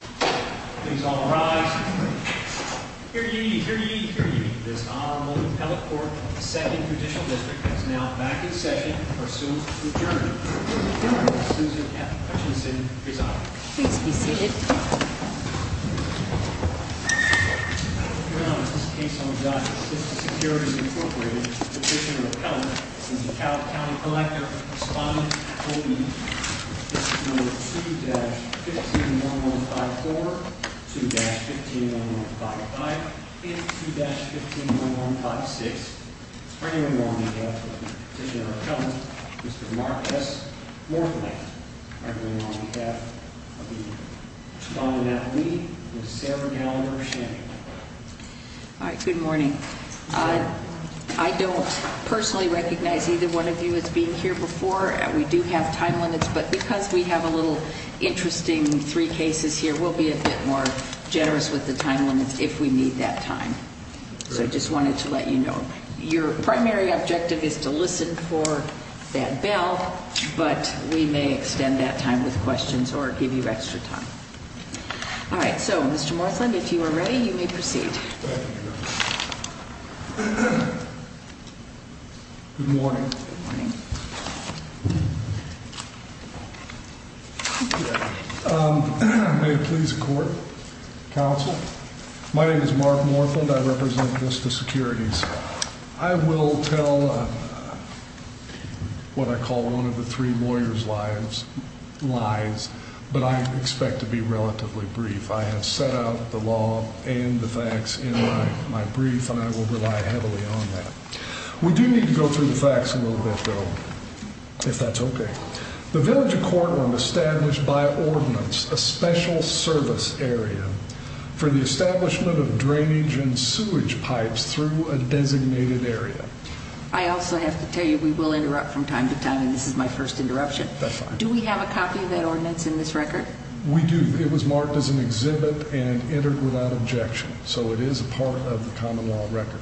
Please all rise. Hear ye, hear ye, hear ye. This Honorable Appellate Court of the 2nd Judicial District is now back in session. Pursuant to adjournment, the appellant, Susan F. Hutchinson, is out. Please be seated. Now, in this case, I'm going to judge Vista Securities Incorporated. Petitioner of appellate, DeKalb County Collector, respondent, this is number 2-15-1154, 2-15-1155, and 2-15-1156. Bringing them on behalf of Petitioner of Appellant, Mr. Mark S. Morphinex. Bringing them on behalf of the respondent appellee, Ms. Sarah Gallagher-Shannon. All right, good morning. I don't personally recognize either one of you as being here before. We do have time limits, but because we have a little interesting three cases here, we'll be a bit more generous with the time limits if we need that time. So I just wanted to let you know. Your primary objective is to listen for that bell, but we may extend that time with questions or give you extra time. All right, so Mr. Morphinex, if you are ready, you may proceed. Thank you. Good morning. Good morning. May it please the court, counsel. My name is Mark Morphinex, I represent Vista Securities. I will tell what I call one of the three lawyers' lives, but I expect to be relatively brief. I have set out the law and the facts in my brief, and I will rely heavily on that. We do need to go through the facts a little bit, though, if that's okay. The village of Cortland established by ordinance a special service area for the establishment of drainage and sewage pipes through a designated area. I also have to tell you, we will interrupt from time to time, and this is my first interruption. That's fine. Do we have a copy of that ordinance in this record? We do. It was marked as an exhibit and entered without objection. So it is a part of the common law record.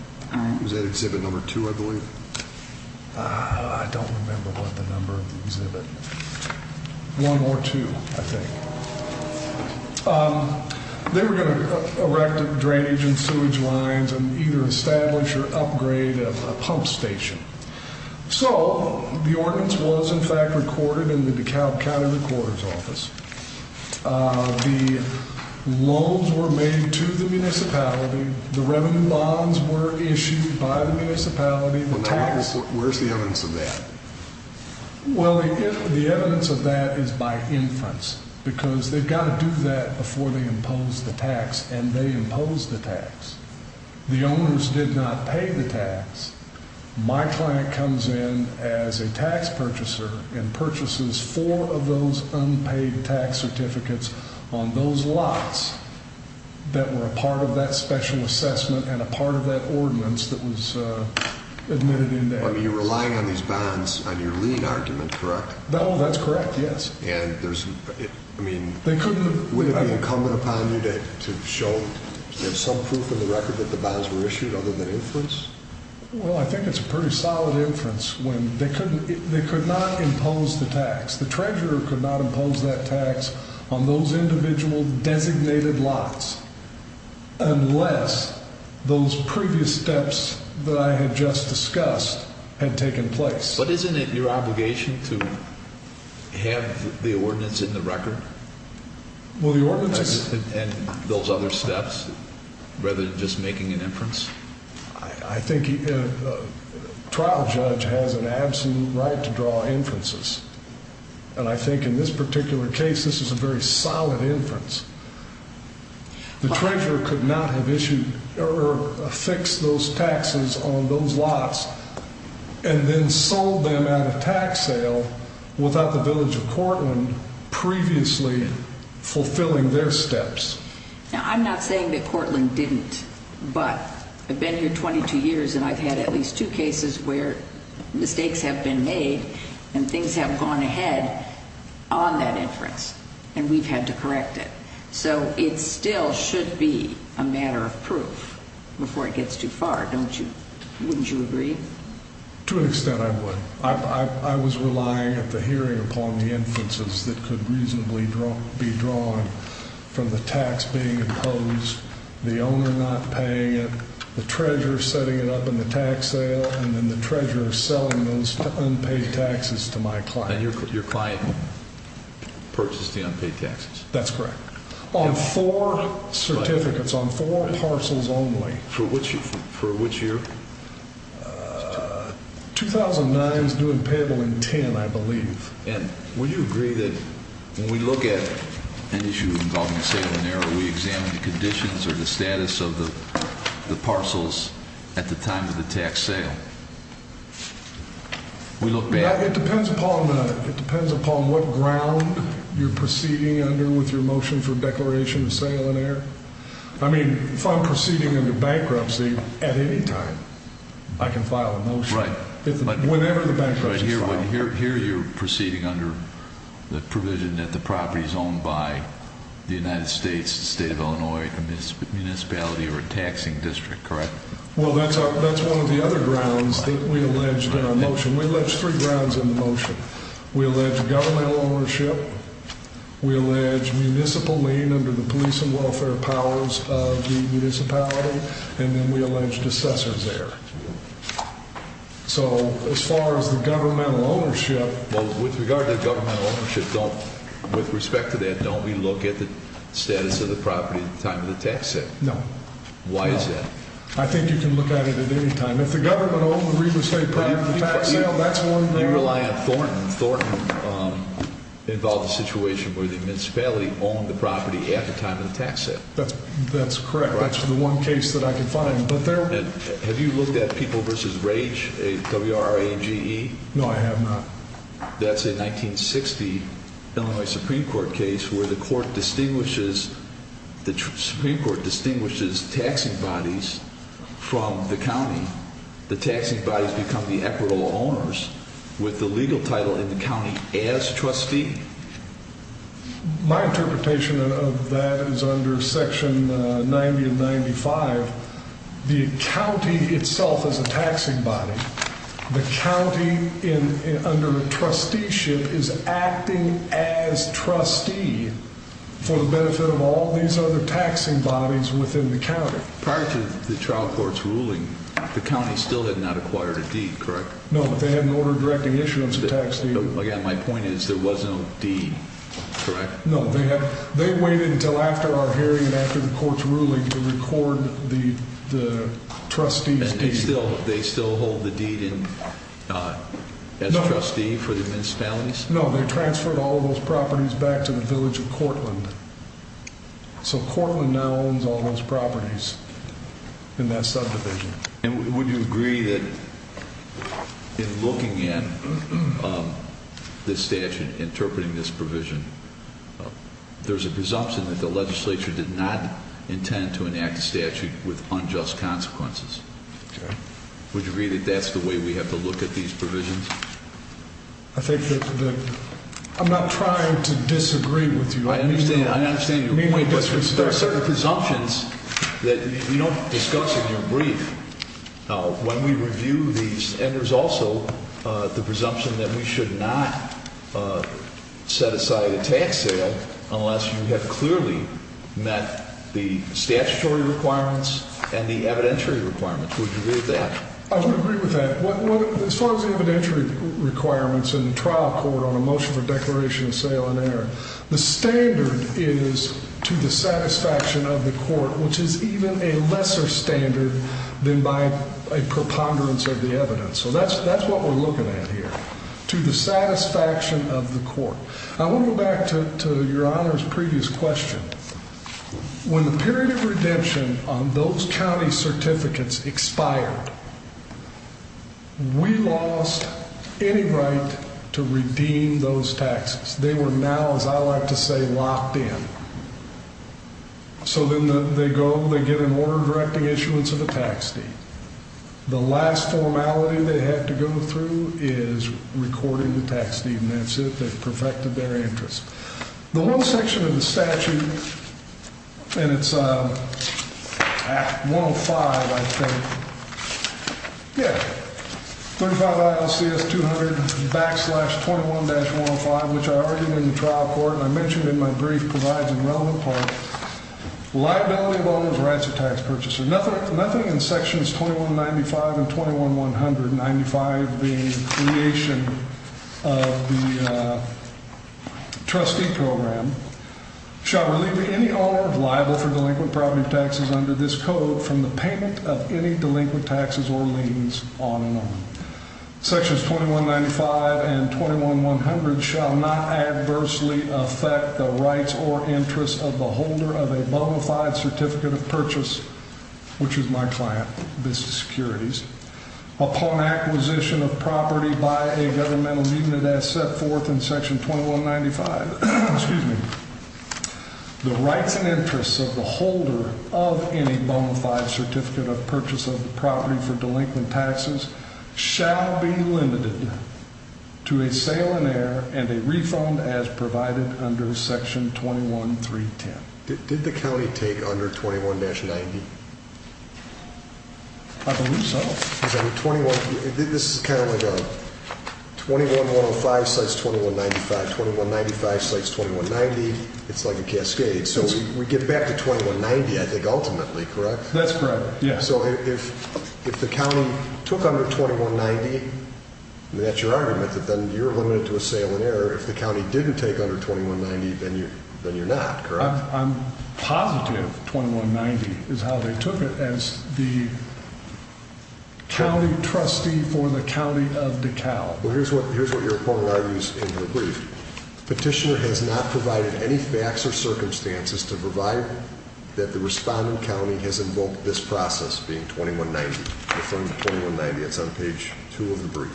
Was that exhibit number two, I believe? I don't remember what the number of the exhibit. One or two, I think. They were going to erect a drainage and sewage lines and either establish or upgrade a pump station. So the ordinance was, in fact, recorded in the DeKalb County Recorder's Office. The loans were made to the municipality, the revenue bonds were issued by the municipality, the tax- Where's the evidence of that? Well, the evidence of that is by inference, because they've got to do that before they impose the tax, and they imposed the tax. The owners did not pay the tax. My client comes in as a tax purchaser and purchases four of those unpaid tax certificates on those lots that were a part of that special assessment and a part of that ordinance that was admitted in there. I mean, you're relying on these bonds on your lien argument, correct? No, that's correct, yes. And there's, I mean- They couldn't have- Would it be incumbent upon you to show some proof of the record that the bonds were issued other than inference? Well, I think it's a pretty solid inference when they could not impose the tax. The treasurer could not impose that tax on those individual designated lots unless those previous steps that I had just discussed had taken place. But isn't it your obligation to have the ordinance in the record? Well, the ordinance is- I think a trial judge has an absolute right to draw inferences. And I think in this particular case, this is a very solid inference. The treasurer could not have issued or fixed those taxes on those lots and then sold them at a tax sale without the village of Cortland previously fulfilling their steps. Now, I'm not saying that Cortland didn't, but I've been here 22 years and I've had at least two cases where mistakes have been made and things have gone ahead on that inference, and we've had to correct it. So it still should be a matter of proof before it gets too far, don't you? Wouldn't you agree? To an extent, I would. I was relying at the hearing upon the inferences that could reasonably be drawn from the tax being imposed, the owner not paying it, the treasurer setting it up in the tax sale, and then the treasurer selling those unpaid taxes to my client. And your client purchased the unpaid taxes? That's correct. On four certificates, on four parcels only. For which year? 2009 is new and payable in 10, I believe. And would you agree that when we look at an issue involving sale and error, we examine the conditions or the status of the parcels at the time of the tax sale? We look back- It depends upon what ground you're proceeding under with your motion for declaration of sale and error. I mean, if I'm proceeding under bankruptcy at any time, I can file a motion. Right. Whenever the bankruptcy is filed. Here you're proceeding under the provision that the property is owned by the United States, the state of Illinois, a municipality or a taxing district, correct? Well, that's one of the other grounds that we alleged in our motion. We alleged three grounds in the motion. We alleged governmental ownership, we alleged municipal lien under the police and welfare powers of the municipality, and then we alleged assessors there. So as far as the governmental ownership- Well, with regard to the governmental ownership, with respect to that, don't we look at the status of the property at the time of the tax sale? No. Why is that? I think you can look at it at any time. If the government owned the Reba State property at the time of the tax sale, that's one- They rely on Thornton. Thornton involved a situation where the municipality owned the property at the time of the tax sale. That's correct. That's the one case that I can find. Have you looked at People vs. Rage, W-R-A-G-E? No, I have not. That's a 1960 Illinois Supreme Court case where the court distinguishes, the Supreme Court distinguishes taxing bodies from the county. The taxing bodies become the equitable owners with the legal title in the county as trustee. My interpretation of that is under Section 90 of 95, the county itself is a taxing body. The county, under a trusteeship, is acting as trustee for the benefit of all these other taxing bodies within the county. Prior to the trial court's ruling, the county still had not acquired a deed, correct? No, they had an order directing issuance of tax deeds. Again, my point is there was no deed, correct? No, they waited until after our hearing and after the court's ruling to record the trustee's deed. They still hold the deed as trustee for the Mince Families? No, they transferred all those properties back to the village of Cortland. So Cortland now owns all those properties in that subdivision. And would you agree that in looking at this statute, interpreting this provision, there's a presumption that the legislature did not intend to enact a statute with unjust consequences? Okay. Would you agree that that's the way we have to look at these provisions? I think that the, I'm not trying to disagree with you. I understand your point, but there are certain presumptions that you don't discuss in your brief. Now, when we review these, and there's also the presumption that we should not set aside a tax sale unless you have clearly met the statutory requirements and the evidentiary requirements. Would you agree with that? I would agree with that. As far as the evidentiary requirements in the trial court on a motion for declaration of sale and a preponderance of the evidence. So that's what we're looking at here. To the satisfaction of the court. I want to go back to your honor's previous question. When the period of redemption on those county certificates expired, we lost any right to redeem those taxes. They were now, as I like to say, locked in. So then they go, they get an order directing issuance of a tax deed. The last formality they had to go through is recording the tax deed, and that's it, they've perfected their interest. The one section of the statute, and it's 105, I think. Yeah, 35 ILCS 200 backslash 21-105, which I argued in the trial court, and I mentioned in my brief, provides a relevant part, liability of owner's rights of tax purchaser. Nothing in sections 2195 and 21-100, 95 being creation of the trustee program, shall relieve any owner of liable for delinquent property taxes under this code from the payment of any delinquent taxes or liens on and on. Sections 2195 and 21-100 shall not adversely affect the rights or interests of the holder of any bona fide certificate of purchase, which is my client, Vista Securities, upon acquisition of property by a governmental unit as set forth in section 2195, excuse me, the rights and interests of the holder of any bona fide certificate of purchase of the property for delinquent taxes shall be limited to a sale in air and a refund as provided under section 21-310. Did the county take under 21-90? I believe so. Because I mean, 21, this is kind of like a 21-105 slides 21-95, 21-95 slides 21-90, it's like a cascade. So we get back to 21-90, I think, ultimately, correct? That's correct, yeah. So if the county took under 21-90, and that's your argument, that then you're limited to a sale in air, if the county didn't take under 21-90, then you're not, correct? I'm positive 21-90 is how they took it as the county trustee for the county of DeKalb. Well, here's what your opponent argues in her brief. Petitioner has not provided any facts or circumstances to provide that the respondent county has invoked this process being 21-90, referring to 21-90. It's on page two of the brief.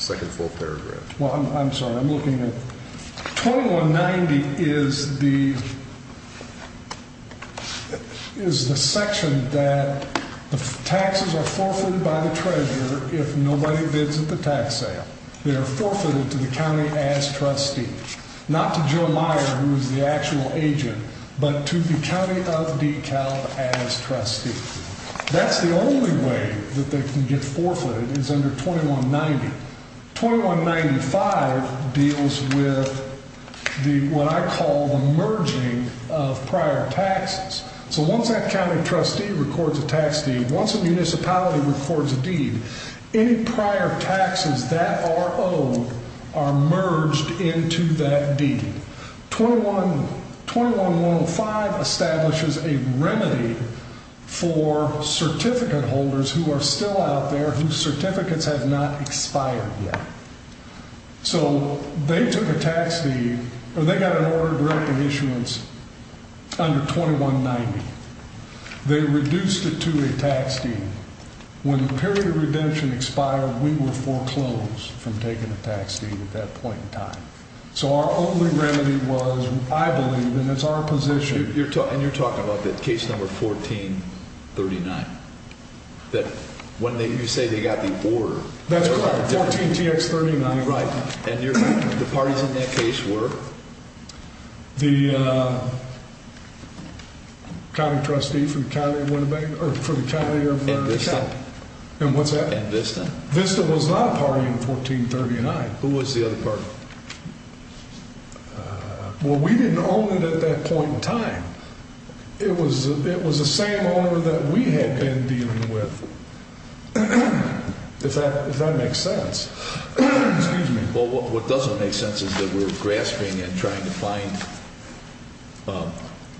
Second full paragraph. Well, I'm sorry, I'm looking at, 21-90 is the, is the section that the taxes are forfeited by the treasurer if nobody bids at the tax sale. They are forfeited to the county as trustee. Not to Joe Meyer, who is the actual agent, but to the county of DeKalb as trustee. That's the only way that they can get forfeited, is under 21-90. 21-95 deals with the, what I call, the merging of prior taxes. So once that county trustee records a tax deed, once a municipality records a deed, any prior taxes that are owed are merged into that deed. 21-105 establishes a remedy for the period of redemption expired. So they took a tax deed, or they got an order to direct the issuance under 21-90. They reduced it to a tax deed. When the period of redemption expired, we were foreclosed from taking a tax deed at that point in time. So our only remedy was, I believe, and it's our position. And you're talking about the case number 1439, that when you say they got the order. That's correct, 14-TX-39. Right, and the parties in that case were? The county trustee for the county of Winnebago, or for the county of DeKalb. And what's that? And Vista? Vista was not a party in 1439. Who was the other party? Well, we didn't own it at that point in time. It was the same owner that we had been dealing with. If that makes sense. Excuse me. Well, what doesn't make sense is that we're grasping and trying to find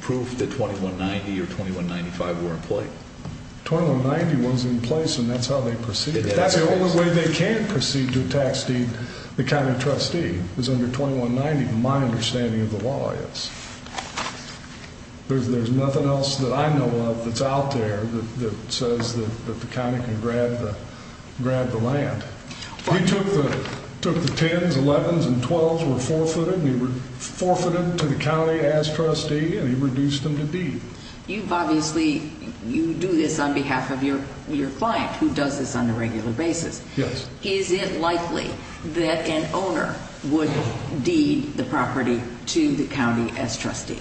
proof that 21-90 or 21-95 were in play. 21-90 was in place, and that's how they proceeded. That's the only way they can proceed to a tax deed, the county trustee, is under 21-90, my understanding of the law is. There's nothing else that I know of that's out there that says that the county can grab the land. We took the 10s, 11s, and 12s, we're forfeited, we were forfeited to the county as trustee, and we reduced them to deed. You've obviously, you do this on behalf of your client, who does this on a regular basis. Yes. Is it likely that an owner would deed the property to the county as trustee?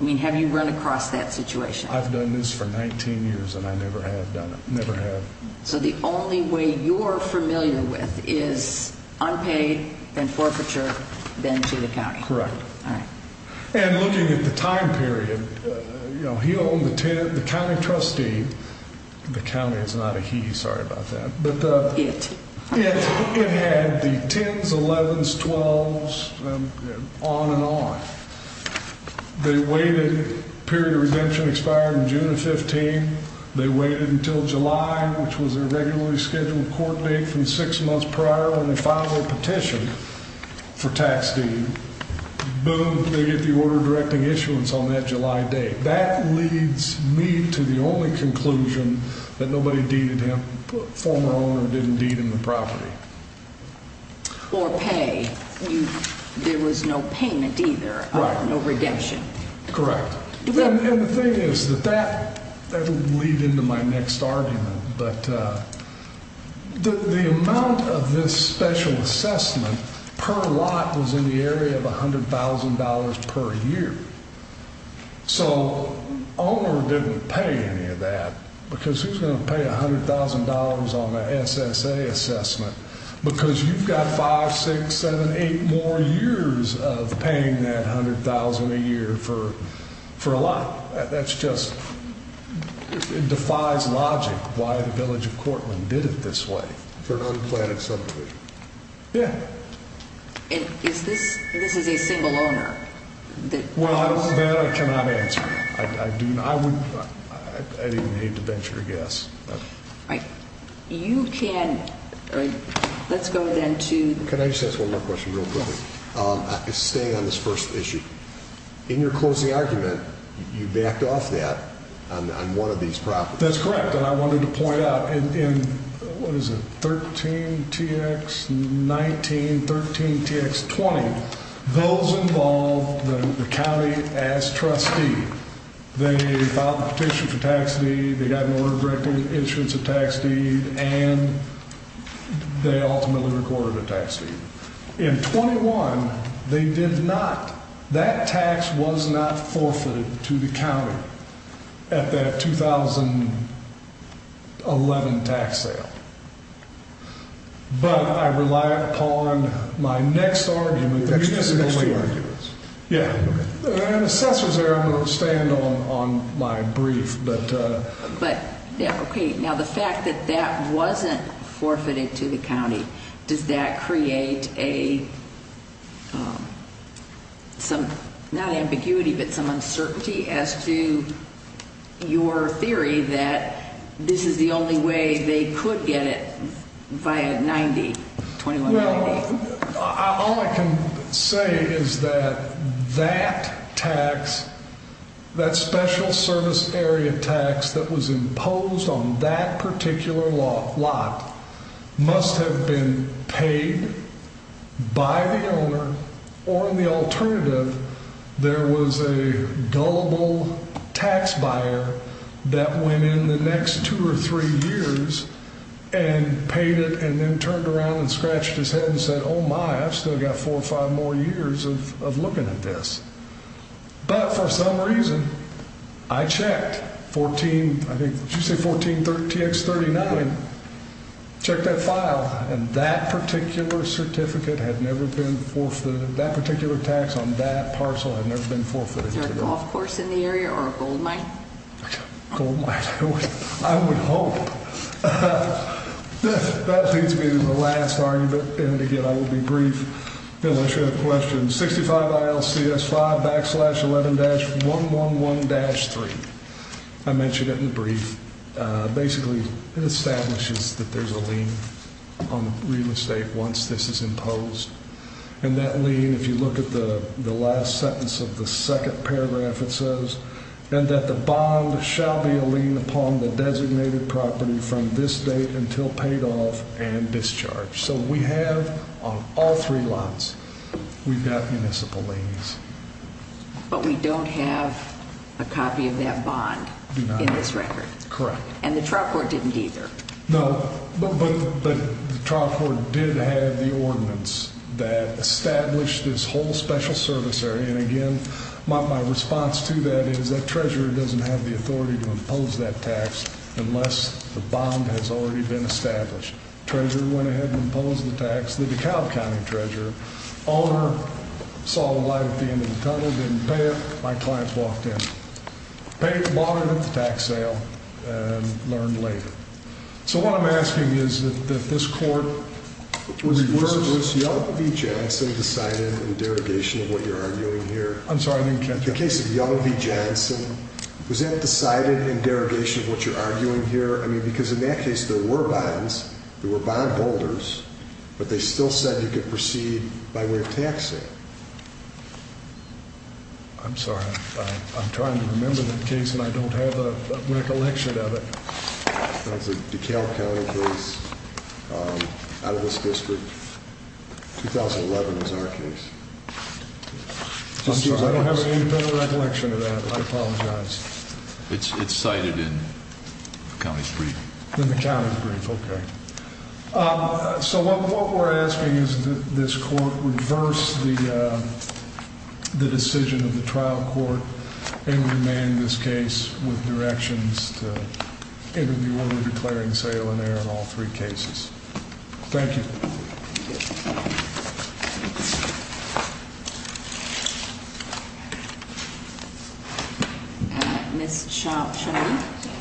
I mean, have you run across that situation? I've done this for 19 years and I never have done it, never have. So the only way you're familiar with is unpaid and forfeiture, then to the county. Correct. All right. And looking at the time period, he owned the 10, the county trustee. The county is not a he, sorry about that. It. It had the 10s, 11s, 12s, on and on. They waited, period of redemption expired in June of 15. They waited until July, which was a regularly scheduled court date from six months prior when they finally petitioned for tax deed. Boom, they get the order directing issuance on that July date. That leads me to the only conclusion that nobody deeded him, former owner didn't deed him the property. Or pay, there was no payment either, no redemption. Correct. And the thing is that that would lead into my next argument. But the amount of this special assessment per lot was in the area of $100,000 per year. So owner didn't pay any of that because he's gonna pay $100,000 on the SSA assessment. Because you've got five, six, seven, eight more years of paying that $100,000 a year for a lot, that's just, it defies logic why the village of Cortland did it this way for an unplanned subdivision. Yeah. And is this, this is a single owner? Well, that I cannot answer. I do not, I would, I'd even hate to venture a guess. All right, you can, let's go then to- Can I just ask one more question real quickly? Staying on this first issue, in your closing argument, you backed off that on one of these properties. That's correct, and I wanted to point out in, what is it? 13 TX 19, 13 TX 20, those involved the county as trustee. They filed a petition for tax deed, they got an order directing insurance to tax deed, and they ultimately recorded a tax deed. In 21, they did not. That tax was not forfeited to the county at that 2011 tax sale. But I rely upon my next argument- That's just the next two arguments. Yeah, and assessors there, I'm going to stand on my brief, but- But, yeah, okay, now the fact that that wasn't forfeited to the county, does that create a, some, not ambiguity, but some uncertainty as to your theory that this is the only way they could get it via 90, 2190? Well, all I can say is that that tax, that special service area tax that was imposed on that particular lot must have been paid by the owner, or in the alternative, there was a gullible tax buyer that went in the next two or three years and paid it and then turned around and scratched his head and said, oh my, I've still got four or five more years of looking at this. But for some reason, I checked 14, I think, did you say 14 TX 39? Checked that file, and that particular certificate had never been forfeited, that particular tax on that parcel had never been forfeited to them. Is there a golf course in the area or a goldmine? Goldmine, I would hope. That leads me to the last argument, and again, I will be brief, unless you have questions. 65 ILCS 5 backslash 11-111-3, I mentioned it in the brief. Basically, it establishes that there's a lien on real estate once this is imposed. And that lien, if you look at the last sentence of the second paragraph, it says, that the bond shall be a lien upon the designated property from this date until paid off and discharged. So we have, on all three lots, we've got municipal liens. But we don't have a copy of that bond in this record. And the trial court didn't either. No, but the trial court did have the ordinance that established this whole special service area. And again, my response to that is, that treasurer doesn't have the authority to impose that tax unless the bond has already been established. Treasurer went ahead and imposed the tax, the DeKalb County treasurer. Owner saw the light at the end of the tunnel, didn't pay it, my clients walked in. Bought it at the tax sale and learned later. So what I'm asking is that this court- Was Young v. Johnson decided in derogation of what you're arguing here? I'm sorry, I didn't catch that. In the case of Young v. Johnson, was that decided in derogation of what you're arguing here? I mean, because in that case, there were bonds, there were bondholders. But they still said you could proceed by way of taxing. I'm sorry, I'm trying to remember that case and I don't have a recollection of it. That was a DeKalb County case out of this district. 2011 was our case. I'm sorry, I don't have any further recollection of that, I apologize. It's cited in the county's brief. In the county's brief, okay. So what we're asking is that this court reverse the decision of the trial court. And remain in this case with directions to interview order declaring sale and error in all three cases. Thank you. Ms. Chau-Chammy.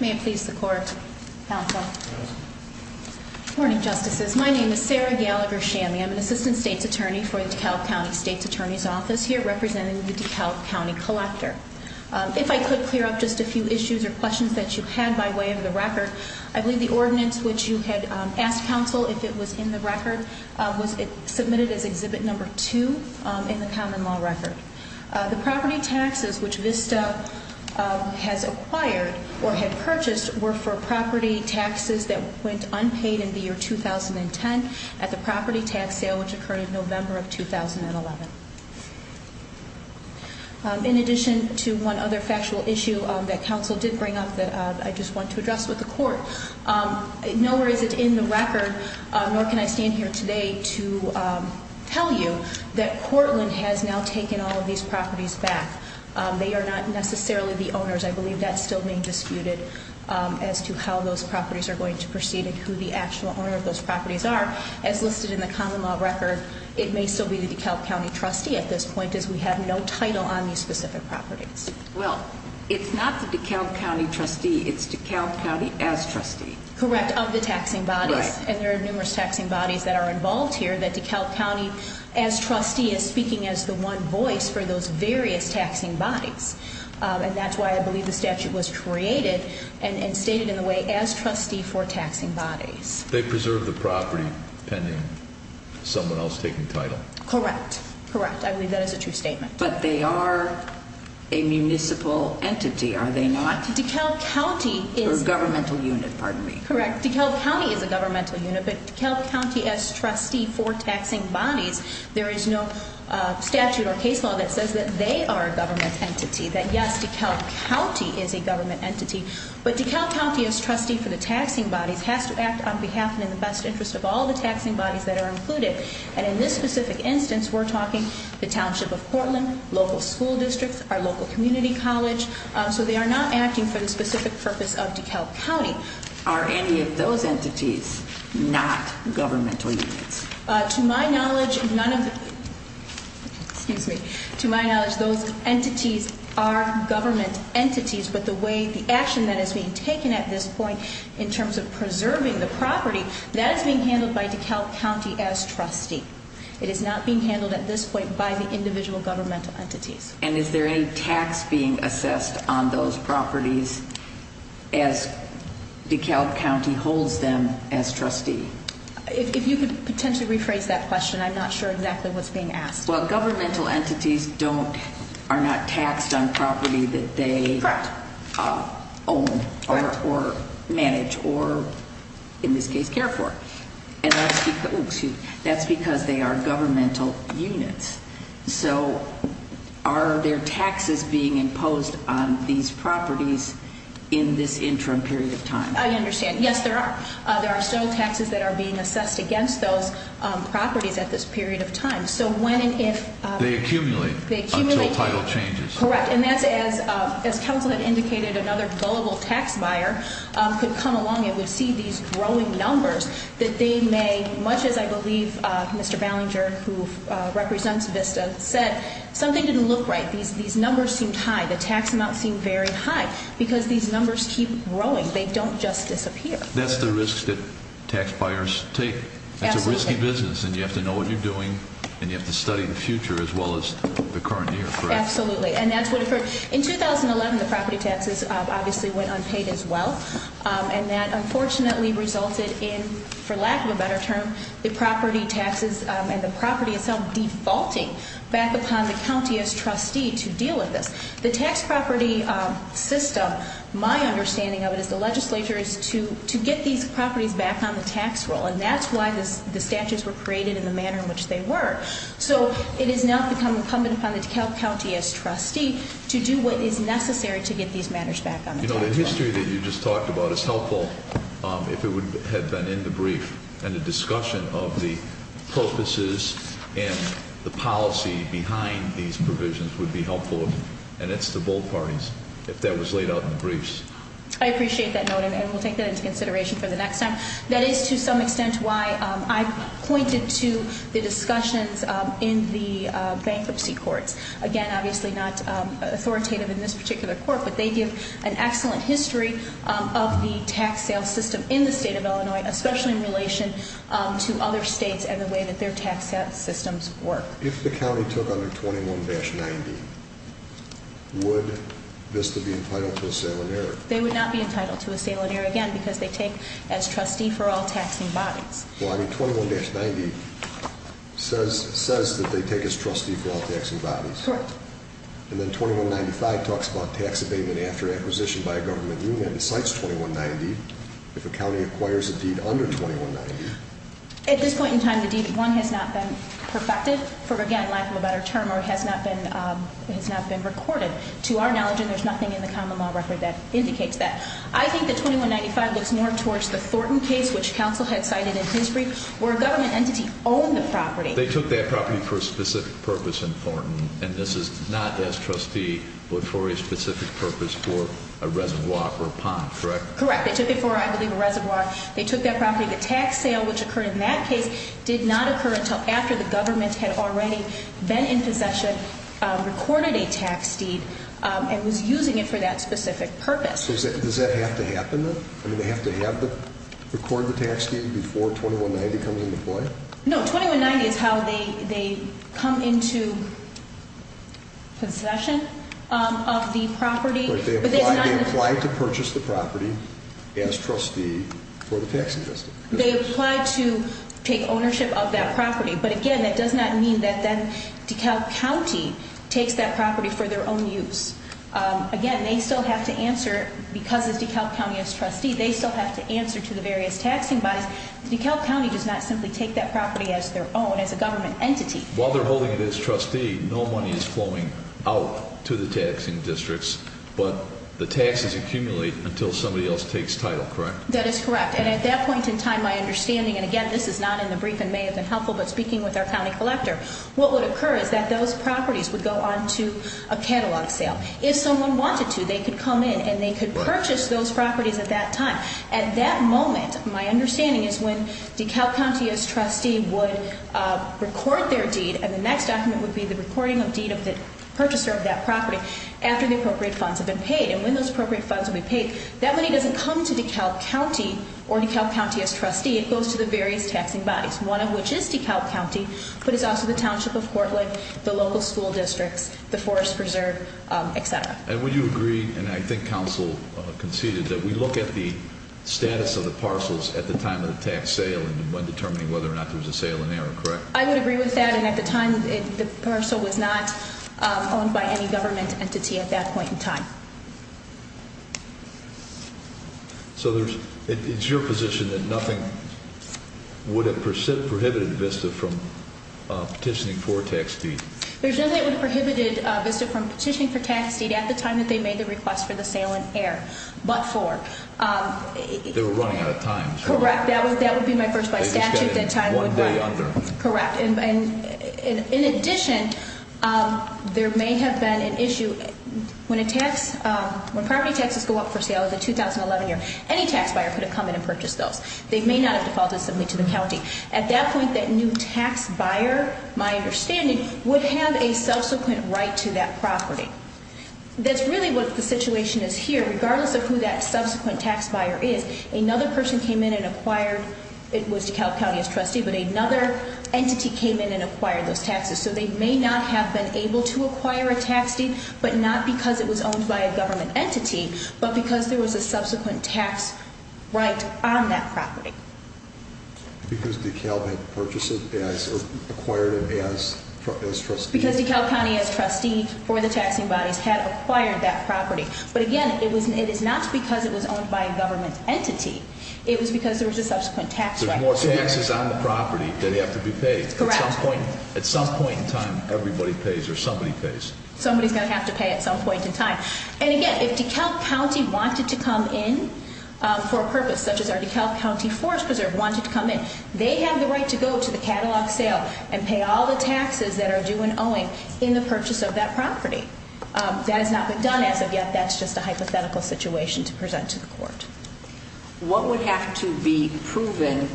May it please the court, counsel. Good morning, justices. My name is Sarah Gallagher-Chammy. I'm an assistant state's attorney for the DeKalb County State's Attorney's Office here, representing the DeKalb County Collector. If I could clear up just a few issues or questions that you had by way of the record. I believe the ordinance which you had asked counsel if it was in the record was submitted as exhibit number two in the common law record. The property taxes which Vista has acquired or had purchased were for property taxes that went unpaid in the year 2010 at the property tax sale which occurred in November of 2011. In addition to one other factual issue that counsel did bring up that I just want to address with the court. Nowhere is it in the record, nor can I stand here today to tell you that Portland has now taken all of these properties back. They are not necessarily the owners. I believe that's still being disputed as to how those properties are going to proceed and who the actual owner of those properties are. As listed in the common law record, it may still be the DeKalb County trustee at this point as we have no title on these specific properties. Well, it's not the DeKalb County trustee, it's DeKalb County as trustee. Correct, of the taxing bodies. Right. And there are numerous taxing bodies that are involved here that DeKalb County as trustee is speaking as the one voice for those various taxing bodies. And that's why I believe the statute was created and stated in the way as trustee for taxing bodies. They preserve the property pending someone else taking title. Correct, correct. I believe that is a true statement. But they are a municipal entity, are they not? DeKalb County is a governmental unit, pardon me. Correct, DeKalb County is a governmental unit, but DeKalb County as trustee for taxing bodies, there is no statute or case law that says that they are a government entity. That yes, DeKalb County is a government entity. But DeKalb County as trustee for the taxing bodies has to act on behalf and in the best interest of all the taxing bodies that are included. And in this specific instance, we're talking the township of Portland, local school districts, our local community college. So they are not acting for the specific purpose of DeKalb County. Are any of those entities not governmental units? To my knowledge, none of the, excuse me. To my knowledge, those entities are government entities, but the way, the action that is being taken at this point in terms of preserving the property, that is being handled by DeKalb County as trustee. It is not being handled at this point by the individual governmental entities. And is there any tax being assessed on those properties as DeKalb County holds them as trustee? If you could potentially rephrase that question, I'm not sure exactly what's being asked. Well, governmental entities are not taxed on property that they own or manage or, in this case, care for. And that's because they are governmental units. So are there taxes being imposed on these properties in this interim period of time? I understand. Yes, there are. There are still taxes that are being assessed against those properties at this period of time. So when and if- They accumulate until title changes. Correct, and that's as Council had indicated, another gullible tax buyer could come along and would see these growing numbers that they may, much as I believe Mr. Ballinger, who represents Vista, said something didn't look right. These numbers seemed high. The tax amounts seemed very high. Because these numbers keep growing. They don't just disappear. That's the risk that tax buyers take. That's a risky business, and you have to know what you're doing, and you have to study the future as well as the current year, correct? Absolutely, and that's what, in 2011, the property taxes obviously went unpaid as well. And that unfortunately resulted in, for lack of a better term, the property taxes and the property itself defaulting back upon the county as trustee to deal with this. The tax property system, my understanding of it is the legislature is to get these properties back on the tax roll. And that's why the statutes were created in the manner in which they were. So it has now become incumbent upon the DeKalb County as trustee to do what is necessary to get these matters back on the tax roll. The history that you just talked about is helpful if it would have been in the brief. And the discussion of the purposes and the policy behind these provisions would be helpful. And it's the both parties, if that was laid out in the briefs. I appreciate that note, and we'll take that into consideration for the next time. That is, to some extent, why I pointed to the discussions in the bankruptcy courts. Again, obviously not authoritative in this particular court, but they give an excellent history of the tax sale system in the state of Illinois, especially in relation to other states and the way that their tax systems work. If the county took under 21-90, would Vista be entitled to a sale and error? They would not be entitled to a sale and error, again, because they take as trustee for all taxing bodies. Well, I mean, 21-90 says that they take as trustee for all taxing bodies. Correct. And then 21-95 talks about tax abatement after acquisition by a government unit and cites 21-90 if a county acquires a deed under 21-90. At this point in time, the deed, one, has not been perfected for, again, lack of a better term, or has not been recorded. To our knowledge, and there's nothing in the common law record that indicates that. I think that 21-95 looks more towards the Thornton case, which counsel had cited in his brief, where a government entity owned the property. They took that property for a specific purpose in Thornton, and this is not as trustee, but for a specific purpose for a reservoir or a pond, correct? Correct, they took it for, I believe, a reservoir. They took that property. The tax sale, which occurred in that case, did not occur until after the government had already been in possession, recorded a tax deed, and was using it for that specific purpose. So does that have to happen then? I mean, they have to record the tax deed before 21-90 comes into play? No, 21-90 is how they come into possession of the property. But they applied to purchase the property as trustee for the taxing district. They applied to take ownership of that property. But again, that does not mean that DeKalb County takes that property for their own use. Again, they still have to answer, because it's DeKalb County as trustee, they still have to answer to the various taxing bodies. DeKalb County does not simply take that property as their own, as a government entity. While they're holding it as trustee, no money is flowing out to the taxing districts, but the taxes accumulate until somebody else takes title, correct? That is correct, and at that point in time, my understanding, and again, this is not in the brief and may have been helpful, but speaking with our county collector. What would occur is that those properties would go on to a catalog sale. If someone wanted to, they could come in and they could purchase those properties at that time. At that moment, my understanding is when DeKalb County as trustee would record their deed and the next document would be the recording of deed of the purchaser of that property after the appropriate funds have been paid. And when those appropriate funds have been paid, that money doesn't come to DeKalb County or DeKalb County as trustee, it goes to the various taxing bodies. One of which is DeKalb County, but it's also the Township of Portland, the local school districts, the Forest Preserve, etc. And would you agree, and I think council conceded, that we look at the status of the parcels at the time of the tax sale and when determining whether or not there's a sale in error, correct? I would agree with that, and at the time, the parcel was not owned by any government entity at that point in time. So it's your position that nothing would have prohibited Vista from petitioning for a tax deed? There's nothing that would have prohibited Vista from petitioning for tax deed at the time that they made the request for the sale in error, but for. They were running out of time. Correct, that would be my first by statute that time would run. One day under. Correct, and in addition, there may have been an issue. When property taxes go up for sale in the 2011 year, any tax buyer could have come in and purchased those. They may not have defaulted something to the county. At that point, that new tax buyer, my understanding, would have a subsequent right to that property. That's really what the situation is here, regardless of who that subsequent tax buyer is. Another person came in and acquired, it was DeKalb County as trustee, but another entity came in and acquired those taxes. So they may not have been able to acquire a tax deed, but not because it was owned by a government entity, but because there was a subsequent tax right on that property. Because DeKalb had purchased it, or acquired it as trustee. Because DeKalb County as trustee for the taxing bodies had acquired that property. But again, it is not because it was owned by a government entity. It was because there was a subsequent tax right. There's more taxes on the property that have to be paid. Correct. At some point in time, everybody pays, or somebody pays. Somebody's going to have to pay at some point in time. And again, if DeKalb County wanted to come in for a purpose, such as our DeKalb County Forest Preserve wanted to come in, they have the right to go to the catalog sale and pay all the taxes that are due and owing in the purchase of that property. That has not been done as of yet. That's just a hypothetical situation to present to the court. What would have to be proven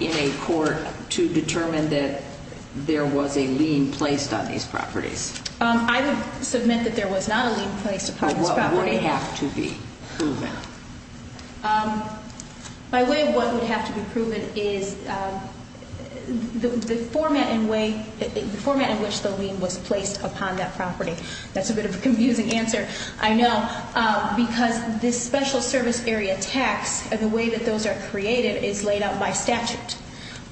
in a court to determine that there was a lien placed on these properties? I would submit that there was not a lien placed upon this property. What would have to be proven? By way of what would have to be proven is the format in which the lien was placed upon that property. That's a bit of a confusing answer, I know. Because this special service area tax, the way that those are created is laid out by statute.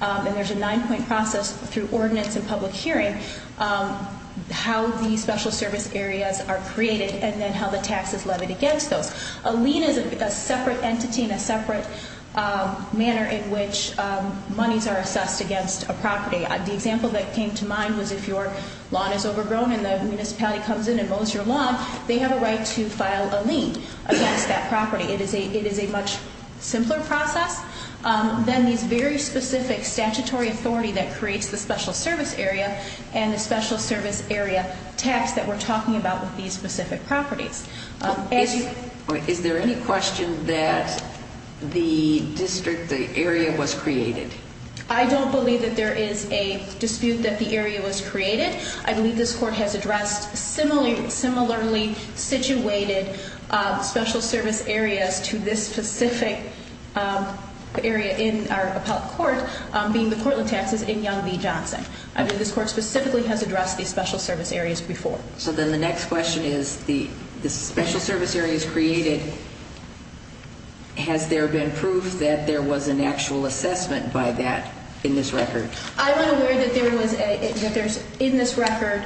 And there's a nine point process through ordinance and public hearing. How the special service areas are created and then how the taxes levied against those. A lien is a separate entity and a separate manner in which monies are assessed against a property. The example that came to mind was if your lawn is overgrown and the municipality comes in and mows your lawn, they have a right to file a lien against that property. It is a much simpler process than these very specific statutory authority that creates the special service area. And the special service area tax that we're talking about with these specific properties. As you- Is there any question that the district, the area was created? I don't believe that there is a dispute that the area was created. I believe this court has addressed similarly situated special service areas to this specific area in our appellate court, being the Cortland Taxes in Young v Johnson. This court specifically has addressed these special service areas before. So then the next question is, the special service areas created, has there been proof that there was an actual assessment by that in this record? I'm not aware that there's in this record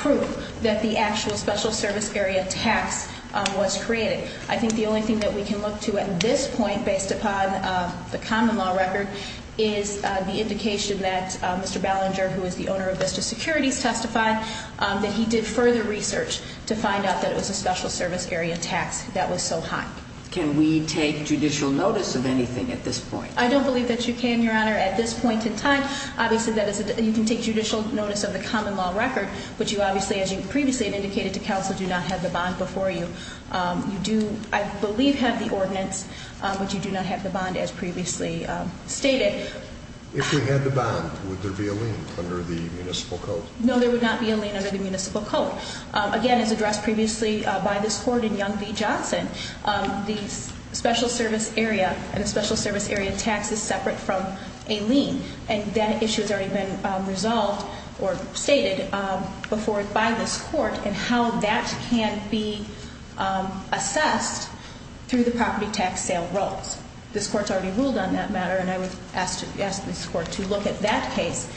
proof that the actual special service area tax was created. I think the only thing that we can look to at this point based upon the common law record is the indication that Mr. Ballinger, who is the owner of Vista Securities, testified that he did further research to find out that it was a special service area tax that was so high. Can we take judicial notice of anything at this point? I don't believe that you can, Your Honor. At this point in time, obviously you can take judicial notice of the common law record. But you obviously, as you previously have indicated to counsel, do not have the bond before you. You do, I believe, have the ordinance, but you do not have the bond as previously stated. If we had the bond, would there be a lien under the municipal code? No, there would not be a lien under the municipal code. Again, as addressed previously by this court in Young v Johnson, the special service area and the special service area tax is separate from a lien. And that issue has already been resolved or stated before by this court. And how that can be assessed through the property tax sale rules. This court's already ruled on that matter, and I would ask this court to look at that case,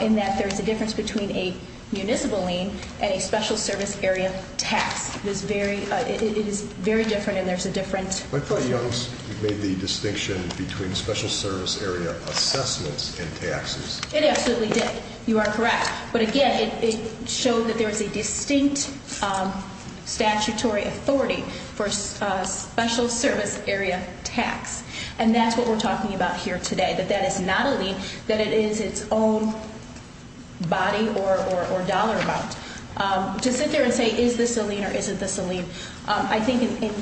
in that there is a difference between a municipal lien and a special service area tax. It is very different and there's a different- I thought Young's made the distinction between special service area assessments and taxes. It absolutely did. You are correct. But again, it showed that there is a distinct statutory authority for special service area tax. And that's what we're talking about here today, that that is not a lien, that it is its own body or dollar amount. To sit there and say, is this a lien or isn't this a lien? I think in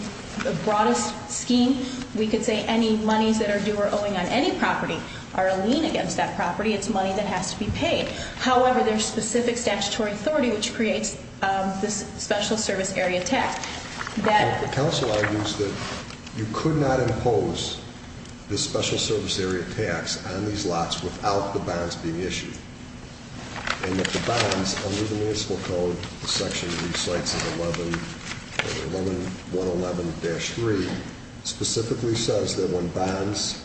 the broadest scheme, we could say any monies that are due or owing on any property are a lien against that property, it's money that has to be paid. However, there's specific statutory authority which creates this special service area tax. That- The council argues that you could not impose the special service area tax on these lots without the bonds being issued. And that the bonds, under the municipal code, the section that recites 1111-3 specifically says that when bonds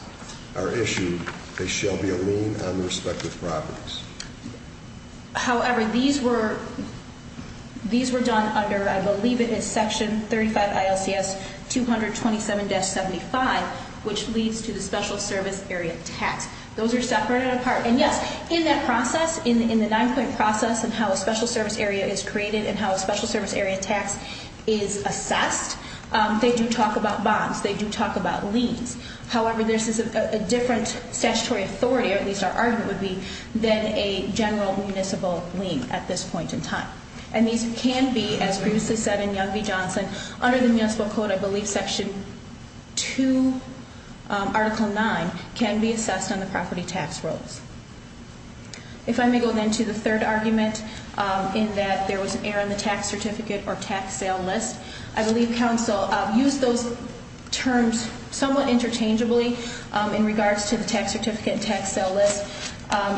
are issued, they shall be a lien on respective properties. However, these were done under, I believe it is section 35 ILCS 227-75, which leads to the special service area tax. Those are separated apart. And yes, in that process, in the nine point process of how a special service area is created and how a special service area tax is assessed, they do talk about bonds. They do talk about liens. However, this is a different statutory authority, or at least our argument would be, than a general municipal lien at this point in time. And these can be, as previously said in Young v. Johnson, under the municipal code, I believe section two, article nine, can be assessed on the property tax rolls. If I may go then to the third argument, in that there was an error in the tax certificate or tax sale list. I believe counsel used those terms somewhat interchangeably in regards to the tax certificate and tax sale list.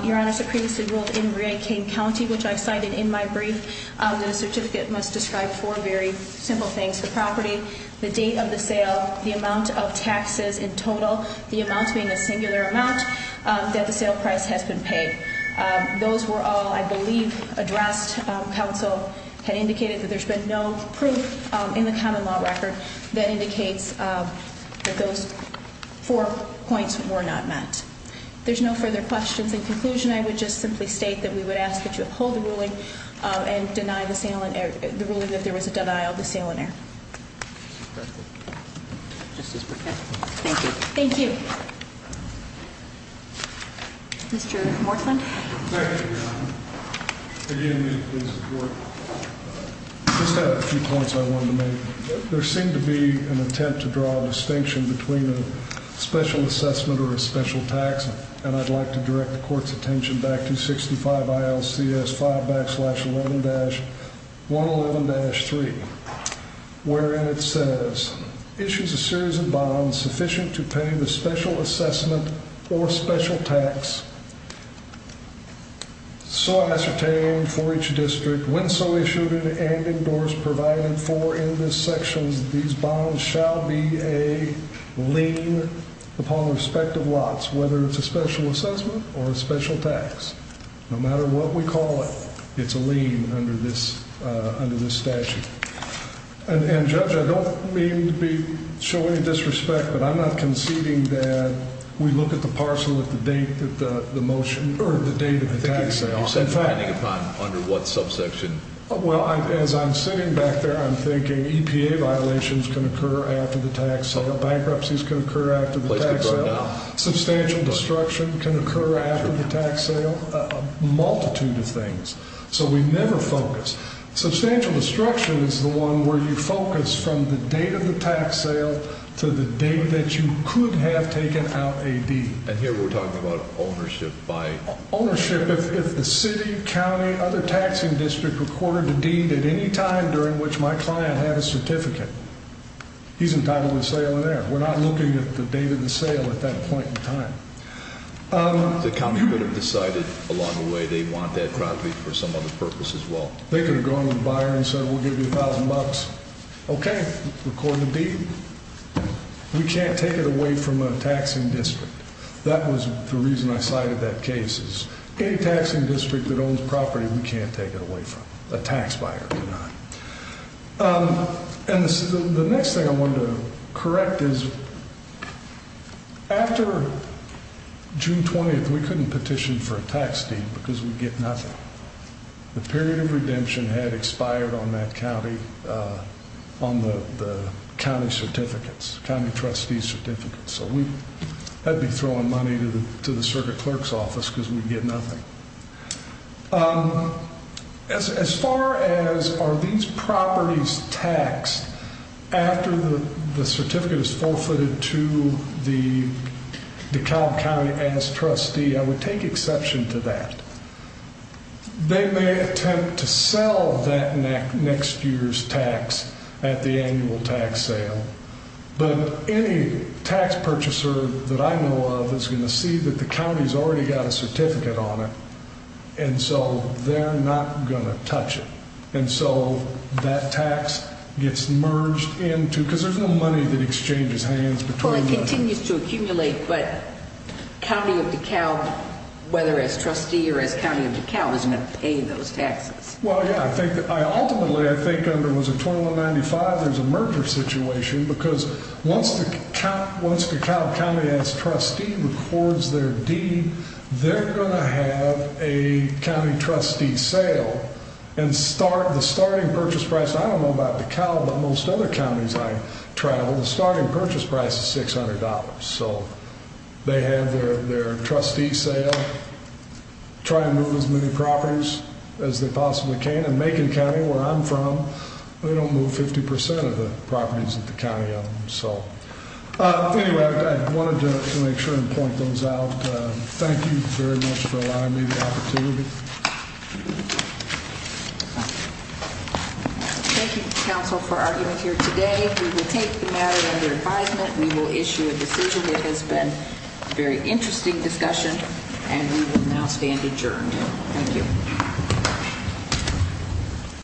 Your Honor, so previously ruled in Ray King County, which I cited in my brief, the certificate must describe four very simple things, the property, the date of the sale, the amount of taxes in total, the amount being a singular amount, that the sale price has been paid. Those were all, I believe, addressed. Counsel had indicated that there's been no proof in the common law record that indicates that those four points were not met. There's no further questions. In conclusion, I would just simply state that we would ask that you uphold the ruling and deny the ruling that there was a denial of the sale and error. Thank you. Thank you. Mr. Moreland. Thank you, Your Honor. Again, I just have a few points I wanted to make. There seemed to be an attempt to draw a distinction between a special assessment or a special tax. And I'd like to direct the court's attention back to 65 ILCS 5-11-111-3. Wherein it says, issues a series of bonds sufficient to pay the special assessment or special tax. So ascertained for each district, when so issued and endorsed, provided for in this section, these bonds shall be a lien upon the respect of lots, whether it's a special assessment or a special tax, no matter what we call it. It's a lien under this statute. And Judge, I don't mean to be showing any disrespect, but I'm not conceding that we look at the parcel at the date that the motion, or the date of the tax sale. In fact- You said depending upon under what subsection? Well, as I'm sitting back there, I'm thinking EPA violations can occur after the tax sale. Bankruptcies can occur after the tax sale. Substantial destruction can occur after the tax sale, a multitude of things. So we never focus. Substantial destruction is the one where you focus from the date of the tax sale to the date that you could have taken out a deed. And here we're talking about ownership by- Ownership if the city, county, other taxing district recorded a deed at any time during which my client had a certificate. He's entitled to a sale in there. We're not looking at the date of the sale at that point in time. The county could have decided along the way they want that property for some other purpose as well. They could have gone to the buyer and said we'll give you a thousand bucks. Okay, record the deed. We can't take it away from a taxing district. That was the reason I cited that case, is any taxing district that owns property, we can't take it away from, a tax buyer cannot. And the next thing I wanted to correct is, after June 20th, we couldn't petition for a tax deed because we'd get nothing. The period of redemption had expired on that county, on the county certificates, county trustee certificates. So we had to be throwing money to the circuit clerk's office because we'd get nothing. As far as are these properties taxed after the certificate is forfeited to the DeKalb County as trustee, I would take exception to that. They may attempt to sell that next year's tax at the annual tax sale. But any tax purchaser that I know of is going to see that the county's already got a certificate on it. And so they're not going to touch it. And so that tax gets merged into, because there's no money that exchanges hands between them. It continues to accumulate, but county of DeKalb, whether as trustee or as county of DeKalb, isn't going to pay those taxes. Well, yeah, I think, ultimately, I think under, what was it, 2195, there's a merger situation. Because once DeKalb County as trustee records their deed, they're going to have a county trustee sale. And the starting purchase price, I don't know about DeKalb, but most other counties I travel, the starting purchase price is $600. So they have their trustee sale, try to move as many properties as they possibly can. And Macon County, where I'm from, they don't move 50% of the properties that the county owns. So anyway, I wanted to make sure and point those out. Thank you. Thank you, counsel, for arguing here today. We will take the matter under advisement. We will issue a decision. It has been a very interesting discussion, and we will now stand adjourned. Thank you.